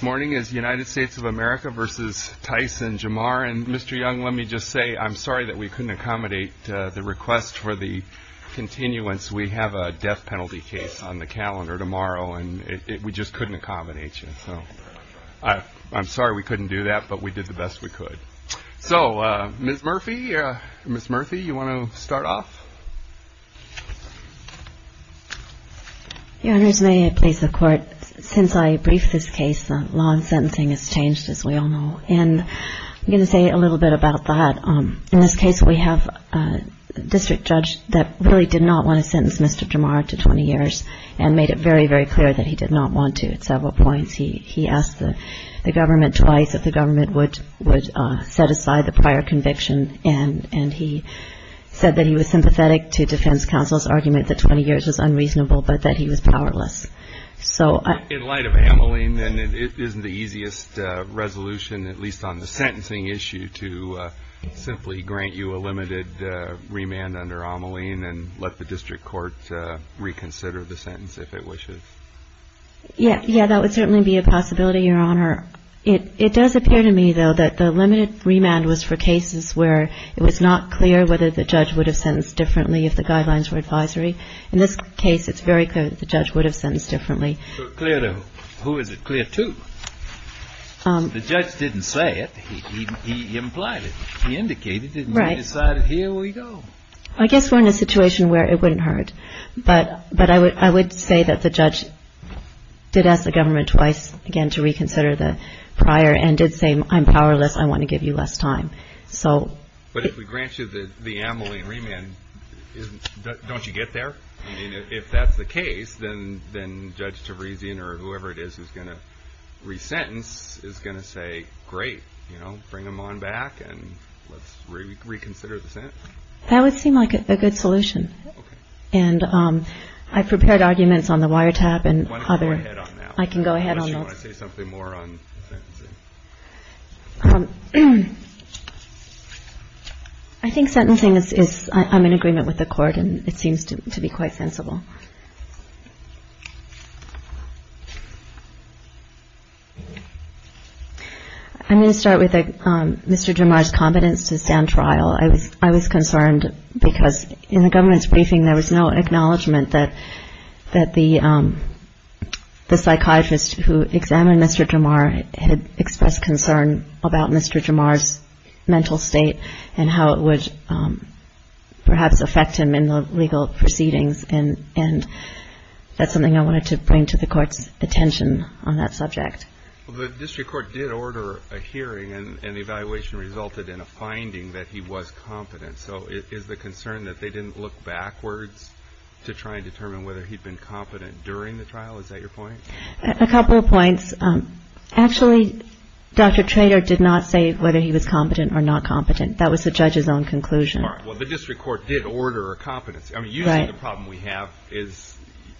I'm sorry we couldn't accommodate the request for the continuance. We have a death penalty case on the calendar tomorrow, and we just couldn't accommodate you. I'm sorry we couldn't do that, but we did the best we could. So, Ms. Murphy, you want to start off? MS. MURPHY Your Honors, may I please have court? Since I briefed this case, the law on sentencing has changed, as we all know. And I'm going to say a little bit about that. In this case, we have a district judge that really did not want to sentence Mr. Jamar to 20 years and made it very, very clear that he did not want to at several points. He asked the government twice if the government would set aside the prior conviction, and he said that he was sympathetic to defense counsel's argument that 20 years was unreasonable, but that he was powerless. In light of Ameline, then, isn't the easiest resolution, at least on the sentencing issue, to simply grant you a limited remand under Ameline and let the district court reconsider the sentence, if it wishes? MS. MURPHY Yeah, that would certainly be a possibility, Your Honor. It does appear to me, though, that the limited remand was for cases where it was not clear whether the judge would have sentenced differently if the guidelines were advisory. In this case, it's very clear that the judge would have sentenced differently. THE COURT Who is it clear to? The judge didn't say it. He implied it. He indicated it. MS. MURPHY Right. THE COURT And he decided, here we go. MS. MURPHY I guess we're in a situation where it wouldn't hurt. But I would say that the judge did ask the government twice, again, to reconsider the prior and did say, I'm powerless. I want to give you less time. THE COURT But if we grant you the Ameline remand, don't you get there? I mean, if that's the case, then Judge Teresian or whoever it is who's going to resentence is going to say, great, you know, bring them on back and let's reconsider the sentence. MS. MURPHY That would seem like a good solution. THE COURT Okay. MS. MURPHY And I've prepared arguments on the wiretap and other. THE COURT Why don't you go ahead on that? MS. MURPHY I can go ahead on those. THE COURT Unless you want to say something more on the sentencing. MS. MURPHY I think sentencing is, I'm in agreement with the Court, and it seems to be quite sensible. I'm going to start with Mr. Jomar's competence to stand trial. I was concerned because in the government's briefing, there was no acknowledgement that the psychiatrist who examined Mr. Jomar had expressed concern about Mr. Jomar's mental state and how it would perhaps affect him in the legal proceedings. And that's something I wanted to bring to the Court's attention on that subject. THE COURT Well, the district court did order a hearing, and the evaluation resulted in a finding that he was competent. So is the concern that they didn't look backwards to try and determine whether he'd been competent during the trial? Is that your point? MS. MURPHY A couple of points. Actually, Dr. Trader did not say whether he was competent or not competent. That was the judge's own conclusion. THE COURT All right. Well, the district court did order a competency. I mean, usually the problem we have is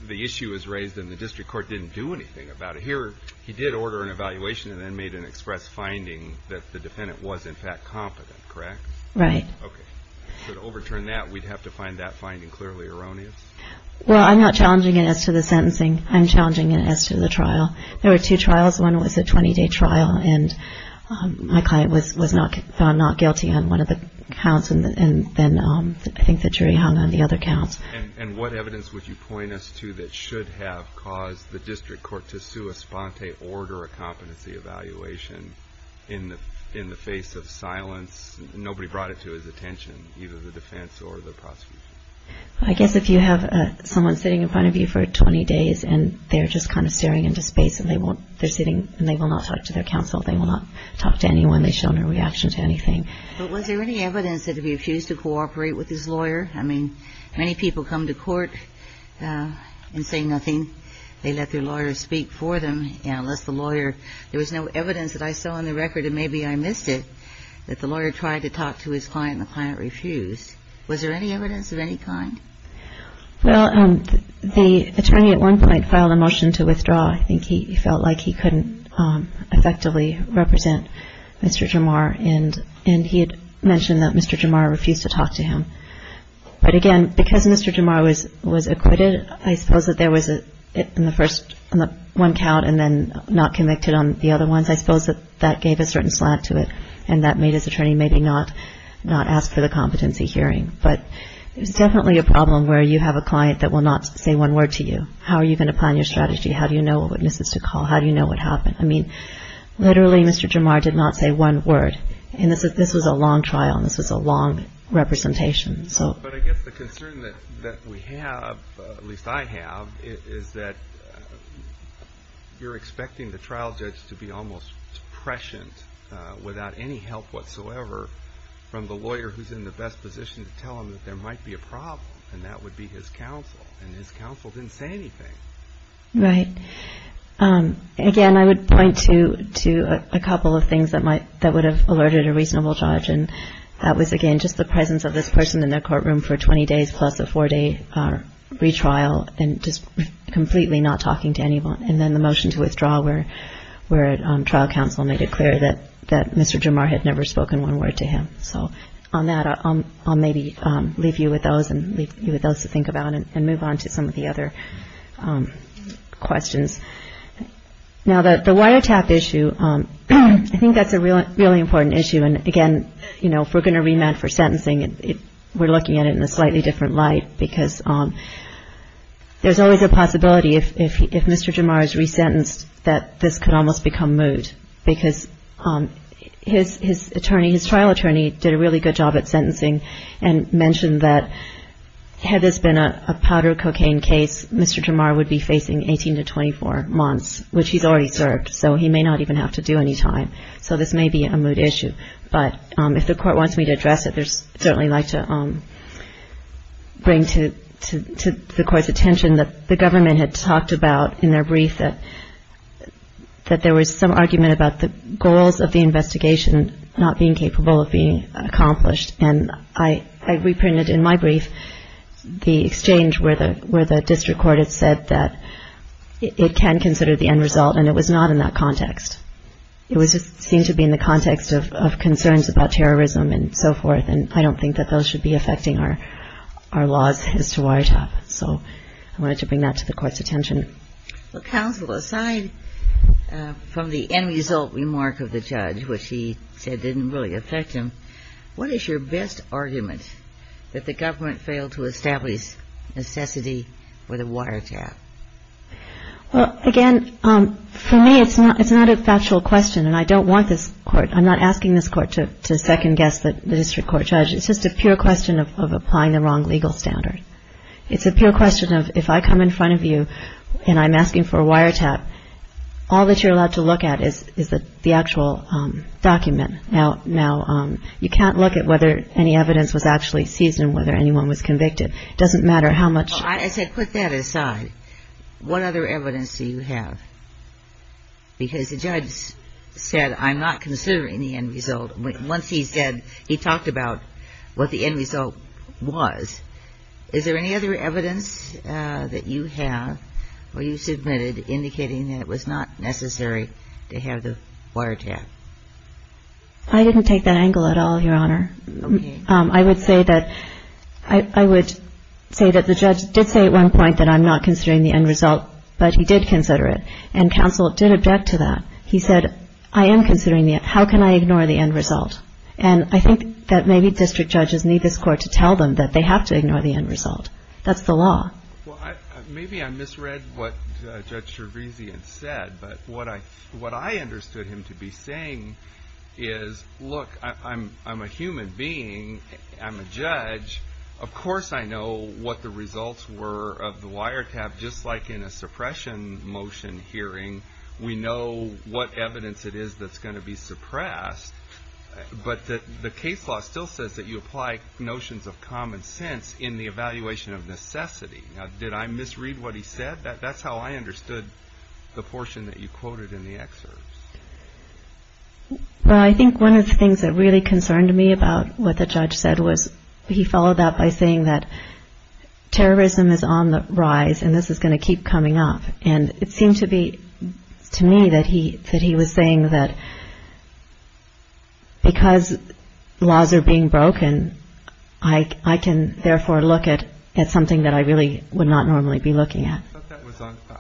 the issue is raised and the district court didn't do anything about it. Here, he did order an evaluation and then made an express finding that the defendant was, in fact, competent, correct? MS. MURPHY Right. THE COURT Okay. So to overturn that, we'd have to find that finding clearly erroneous? MS. MURPHY Well, I'm not challenging it as to the sentencing. I'm challenging it as to the trial. There were two trials. One was a 20-day trial, and my client was found not guilty on one of the counts, and then I think the jury hung on the other count. THE COURT And what evidence would you point us to that should have caused the district court to sue a sponte order a competency evaluation in the face of silence? Nobody brought it to his attention, either the defense or the prosecution? MS. MURPHY I guess if you have someone sitting in front of you for 20 days and they're just kind of staring into space and they're sitting and they will not talk to their counsel, they will not talk to anyone, they show no reaction to anything. THE COURT But was there any evidence that he refused to cooperate with his lawyer? I mean, many people come to court and say nothing. They let their lawyer speak for them, you know, unless the lawyer – there was no evidence that I saw on the record, and maybe I missed it, that the lawyer tried to talk to his client and the client refused. Was there any evidence of any kind? MS. MURPHY Well, the attorney at one point filed a motion to withdraw. I think he felt like he couldn't effectively represent Mr. Jamar, and he had mentioned that Mr. Jamar refused to talk to him. But again, because Mr. Jamar was acquitted, I suppose that there was in the first – in the one count and then not convicted on the other ones, I suppose that that gave a certain slack to it and that made his attorney maybe not ask for the competency hearing. But there's definitely a problem where you have a client that will not say one word to you. How are you going to plan your strategy? How do you know what witnesses to call? How do you know what happened? I mean, literally Mr. Jamar did not say one word, and this was a long trial and this was a long representation. But I guess the concern that we have, at least I have, is that you're expecting the trial judge to be almost prescient without any help whatsoever from the lawyer who's in the best position to tell him that there might be a problem, and that would be his counsel, and his counsel didn't say anything. MS. MURPHY Right. Again, I would point to a couple of things that might – that would have alerted a reasonable judge, and that was, again, just the presence of this person in the courtroom for 20 days plus a four-day retrial and just completely not talking to anyone. And then the motion to withdraw where trial counsel made it clear that Mr. Jamar had never spoken one word to him. So on that, I'll maybe leave you with those and leave you with those to think about and move on to some of the other questions. Now, the wiretap issue, I think that's a really important issue. And, again, you know, if we're going to remand for sentencing, we're looking at it in a slightly different light because there's always a possibility if Mr. Jamar is resentenced that this could almost become moot because his attorney, his trial attorney, did a really good job at sentencing and mentioned that had this been a powder cocaine case, Mr. Jamar would be facing 18 to 24 months, which he's already served, so he may not even have to do any time. So this may be a moot issue. But if the Court wants me to address it, I'd certainly like to bring to the Court's attention that the government had talked about in their brief that there was some argument about the goals of the investigation not being capable of being accomplished. And I reprinted in my brief the exchange where the district court had said that it can consider the end result and it was not in that context. It just seemed to be in the context of concerns about terrorism and so forth, and I don't think that those should be affecting our laws as to wiretap. So I wanted to bring that to the Court's attention. Well, counsel, aside from the end result remark of the judge, which he said didn't really affect him, what is your best argument that the government failed to establish necessity for the wiretap? Well, again, for me, it's not a factual question, and I don't want this Court, I'm not asking this Court to second-guess the district court judge. It's just a pure question of applying the wrong legal standard. It's a pure question of if I come in front of you and I'm asking for a wiretap, all that you're allowed to look at is the actual document. Now, you can't look at whether any evidence was actually seized and whether anyone was convicted. It doesn't matter how much. Well, I said put that aside. What other evidence do you have? Because the judge said, I'm not considering the end result. Once he said, he talked about what the end result was. Is there any other evidence that you have or you submitted indicating that it was not necessary to have the wiretap? I didn't take that angle at all, Your Honor. I would say that the judge did say at one point that I'm not considering the end result, but he did consider it, and counsel did object to that. He said, I am considering the end result. How can I ignore the end result? And I think that maybe district judges need this Court to tell them that they have to ignore the end result. That's the law. Well, maybe I misread what Judge Cherezian said, but what I understood him to be saying is, look, I'm a human being. I'm a judge. Of course I know what the results were of the wiretap, just like in a suppression motion hearing. We know what evidence it is that's going to be suppressed, but the case law still says that you apply notions of common sense in the evaluation of necessity. Now, did I misread what he said? That's how I understood the portion that you quoted in the excerpt. Well, I think one of the things that really concerned me about what the judge said was, he followed that by saying that terrorism is on the rise and this is going to keep coming up, and it seemed to me that he was saying that because laws are being broken, I can therefore look at something that I really would not normally be looking at.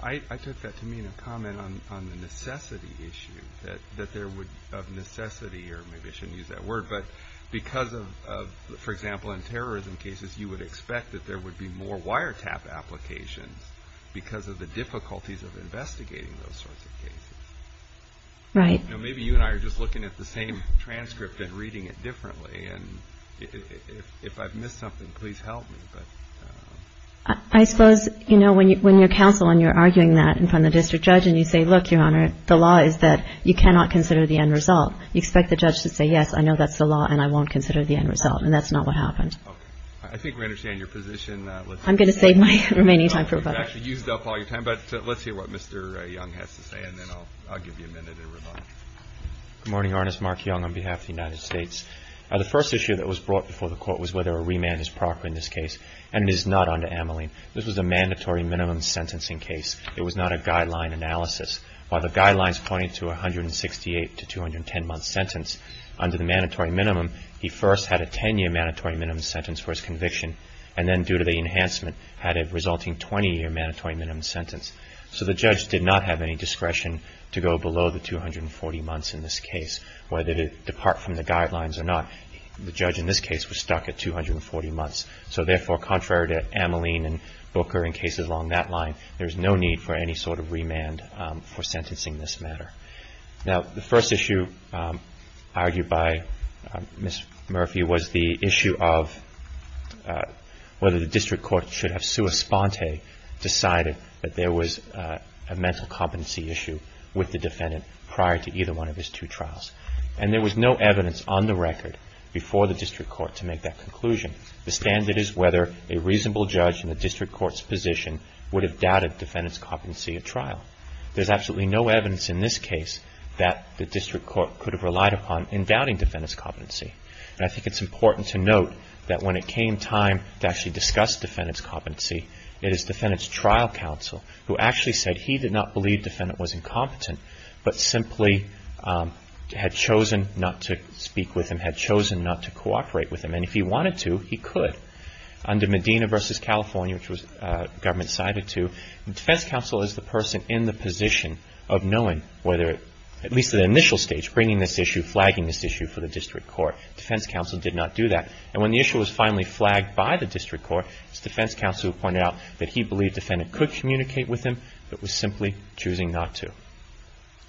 I took that to mean a comment on the necessity issue, that there would, of necessity, or maybe I shouldn't use that word, but because of, for example, in terrorism cases, you would expect that there would be more wiretap applications because of the difficulties of investigating those sorts of cases. Right. Maybe you and I are just looking at the same transcript and reading it differently, and if I've missed something, please help me. I suppose, you know, when you're counsel and you're arguing that in front of the district judge and you say, look, Your Honor, the law is that you cannot consider the end result, you expect the judge to say, yes, I know that's the law and I won't consider the end result, and that's not what happened. Okay. I think we understand your position. I'm going to save my remaining time for a break. You've actually used up all your time, but let's hear what Mr. Young has to say, and then I'll give you a minute in reply. Good morning, Your Honor. It's Mark Young on behalf of the United States. The first issue that was brought before the Court was whether a remand is proper in this case, and it is not under Ameline. This was a mandatory minimum sentencing case. It was not a guideline analysis. While the guidelines pointed to a 168 to 210-month sentence, under the mandatory minimum he first had a 10-year mandatory minimum sentence for his conviction, and then due to the enhancement had a resulting 20-year mandatory minimum sentence. So the judge did not have any discretion to go below the 240 months in this case, whether to depart from the guidelines or not. The judge in this case was stuck at 240 months. So therefore, contrary to Ameline and Booker and cases along that line, there's no need for any sort of remand for sentencing this matter. Now, the first issue argued by Ms. Murphy was the issue of whether the district court should have decided that there was a mental competency issue with the defendant prior to either one of his two trials. And there was no evidence on the record before the district court to make that conclusion. The standard is whether a reasonable judge in the district court's position would have doubted defendant's competency at trial. There's absolutely no evidence in this case that the district court could have relied upon in doubting defendant's competency. And I think it's important to note that when it came time to actually discuss defendant's competency, it is defendant's trial counsel who actually said he did not believe defendant was incompetent, but simply had chosen not to speak with him, had chosen not to cooperate with him. And if he wanted to, he could. Under Medina v. California, which the government sided to, the defense counsel is the person in the position of knowing whether, at least at the initial stage, screening this issue, flagging this issue for the district court. Defense counsel did not do that. And when the issue was finally flagged by the district court, it's defense counsel who pointed out that he believed defendant could communicate with him, but was simply choosing not to.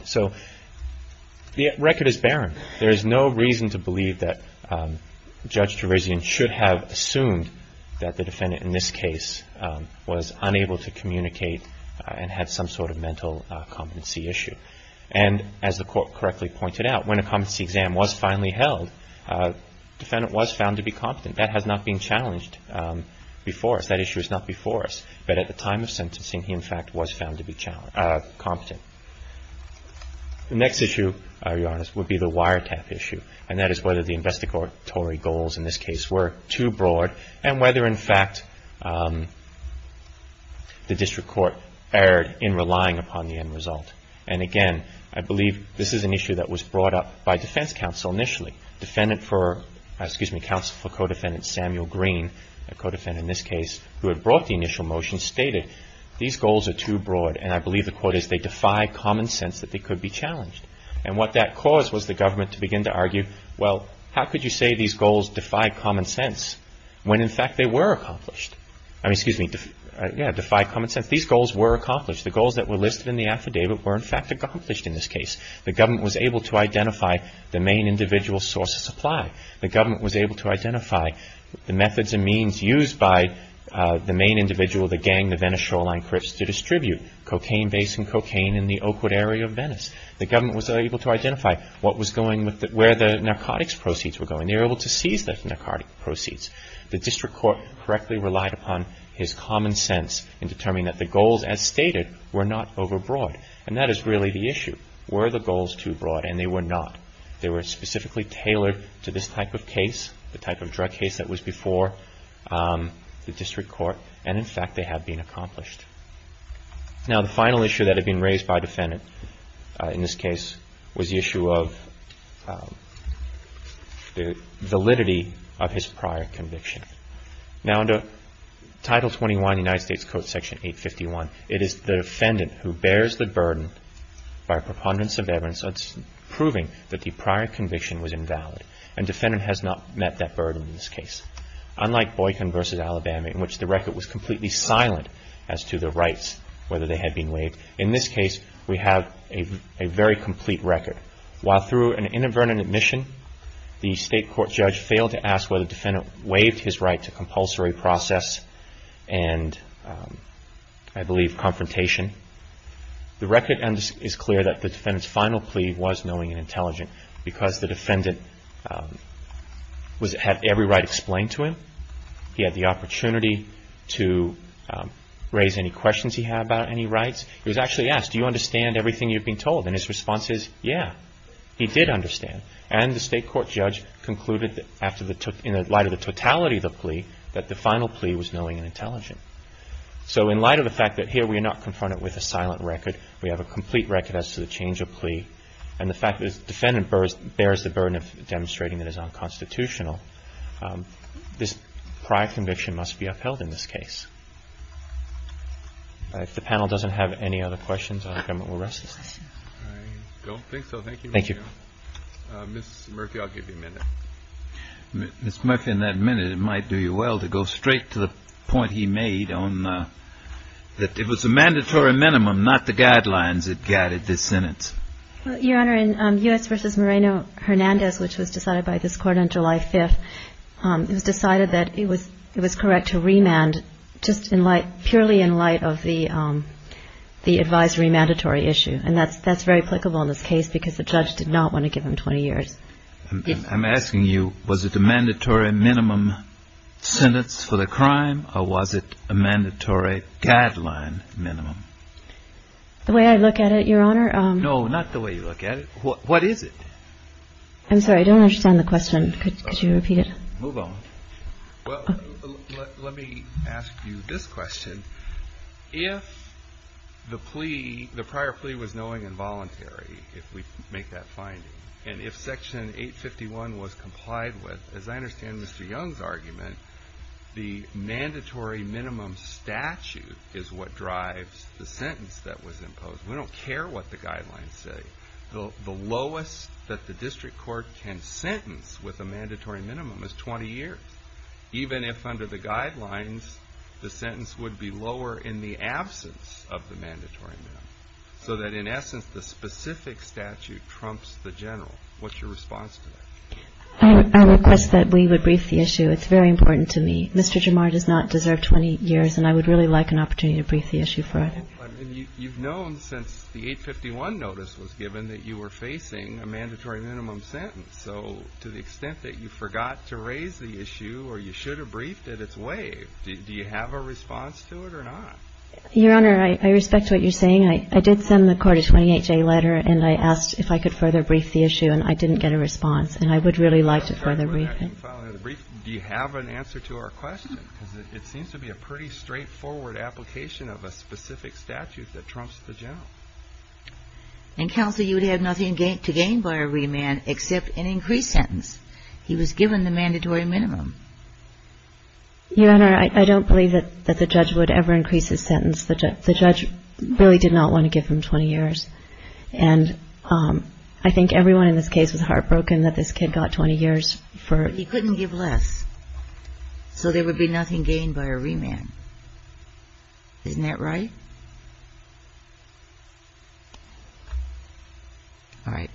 So the record is barren. There is no reason to believe that Judge Trevesian should have assumed that the defendant in this case was unable to communicate and had some sort of mental competency issue. And as the court correctly pointed out, when a competency exam was finally held, defendant was found to be competent. That has not been challenged before us. That issue is not before us. But at the time of sentencing, he, in fact, was found to be competent. The next issue, to be honest, would be the wiretap issue, and that is whether the investigatory goals in this case were too broad and whether, in fact, the district court erred in relying upon the end result. And again, I believe this is an issue that was brought up by defense counsel initially. Counsel for co-defendant Samuel Green, a co-defendant in this case who had brought the initial motion, stated these goals are too broad, and I believe the court is they defy common sense that they could be challenged. And what that caused was the government to begin to argue, well, how could you say these goals defy common sense when, in fact, they were accomplished? I mean, excuse me, yeah, defy common sense. These goals were accomplished. The goals that were listed in the affidavit were, in fact, accomplished in this case. The government was able to identify the main individual source of supply. The government was able to identify the methods and means used by the main individual, the gang, the Venice Shoreline Crips, to distribute cocaine base and cocaine in the Oakwood area of Venice. The government was able to identify where the narcotics proceeds were going. They were able to seize the narcotic proceeds. The district court correctly relied upon his common sense in determining that the goals, as stated, were not overbroad. And that is really the issue. Were the goals too broad? And they were not. They were specifically tailored to this type of case, the type of drug case that was before the district court. And, in fact, they had been accomplished. Now, the final issue that had been raised by defendant in this case was the issue of the validity of his prior conviction. Now, under Title 21 of the United States Code, Section 851, it is the defendant who bears the burden by preponderance of evidence proving that the prior conviction was invalid. And defendant has not met that burden in this case. Unlike Boykin v. Alabama, in which the record was completely silent as to the rights, whether they had been waived, in this case we have a very complete record. While through an inadvertent admission the state court judge failed to ask whether the defendant waived his right to compulsory process and, I believe, confrontation, the record is clear that the defendant's final plea was knowing and intelligent because the defendant had every right explained to him. He had the opportunity to raise any questions he had about any rights. He was actually asked, do you understand everything you've been told? And his response is, yeah, he did understand. And the state court judge concluded in light of the totality of the plea that the final plea was knowing and intelligent. So in light of the fact that here we are not confronted with a silent record, we have a complete record as to the change of plea, and the fact that the defendant bears the burden of demonstrating that it is unconstitutional, this prior conviction must be upheld in this case. If the panel doesn't have any other questions, I'll come and we'll rest. I don't think so. Thank you. Thank you. Ms. Murphy, I'll give you a minute. Ms. Murphy, in that minute it might do you well to go straight to the point he made on that it was a mandatory minimum, not the guidelines that guided this sentence. Your Honor, in U.S. v. Moreno-Hernandez, which was decided by this court on July 5th, it was decided that it was correct to remand just in light, purely in light of the advisory mandatory issue. And that's very applicable in this case because the judge did not want to give him 20 years. I'm asking you, was it a mandatory minimum sentence for the crime, or was it a mandatory guideline minimum? The way I look at it, Your Honor. No, not the way you look at it. What is it? I'm sorry, I don't understand the question. Could you repeat it? Move on. Well, let me ask you this question. If the plea, the prior plea was knowing and voluntary, if we make that finding, and if Section 851 was complied with, as I understand Mr. Young's argument, the mandatory minimum statute is what drives the sentence that was imposed. We don't care what the guidelines say. The lowest that the district court can sentence with a mandatory minimum is 20 years, even if under the guidelines the sentence would be lower in the absence of the mandatory minimum, so that in essence the specific statute trumps the general. What's your response to that? I request that we would brief the issue. It's very important to me. Mr. Jamar does not deserve 20 years, and I would really like an opportunity to brief the issue for him. You've known since the 851 notice was given that you were facing a mandatory minimum sentence. So to the extent that you forgot to raise the issue or you should have briefed it, it's waived. Do you have a response to it or not? Your Honor, I respect what you're saying. I did send the court a 28-day letter, and I asked if I could further brief the issue, and I didn't get a response, and I would really like to further brief it. Do you have an answer to our question? Because it seems to be a pretty straightforward application of a specific statute that trumps the general. And, Counsel, you would have nothing to gain by a remand except an increased sentence. He was given the mandatory minimum. Your Honor, I don't believe that the judge would ever increase his sentence. The judge really did not want to give him 20 years, and I think everyone in this case was heartbroken that this kid got 20 years for it. He couldn't give less, so there would be nothing gained by a remand. Isn't that right? All right.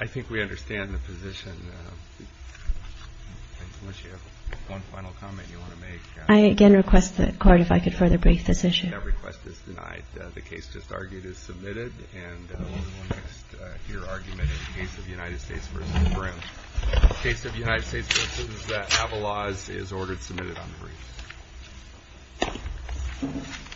I think we understand the position. Unless you have one final comment you want to make. I again request the court if I could further brief this issue. That request is denied. The case just argued is submitted, and the only one to hear argument is the case of United States v. Brim. The case of United States v. Avalaz is ordered submitted on the brief.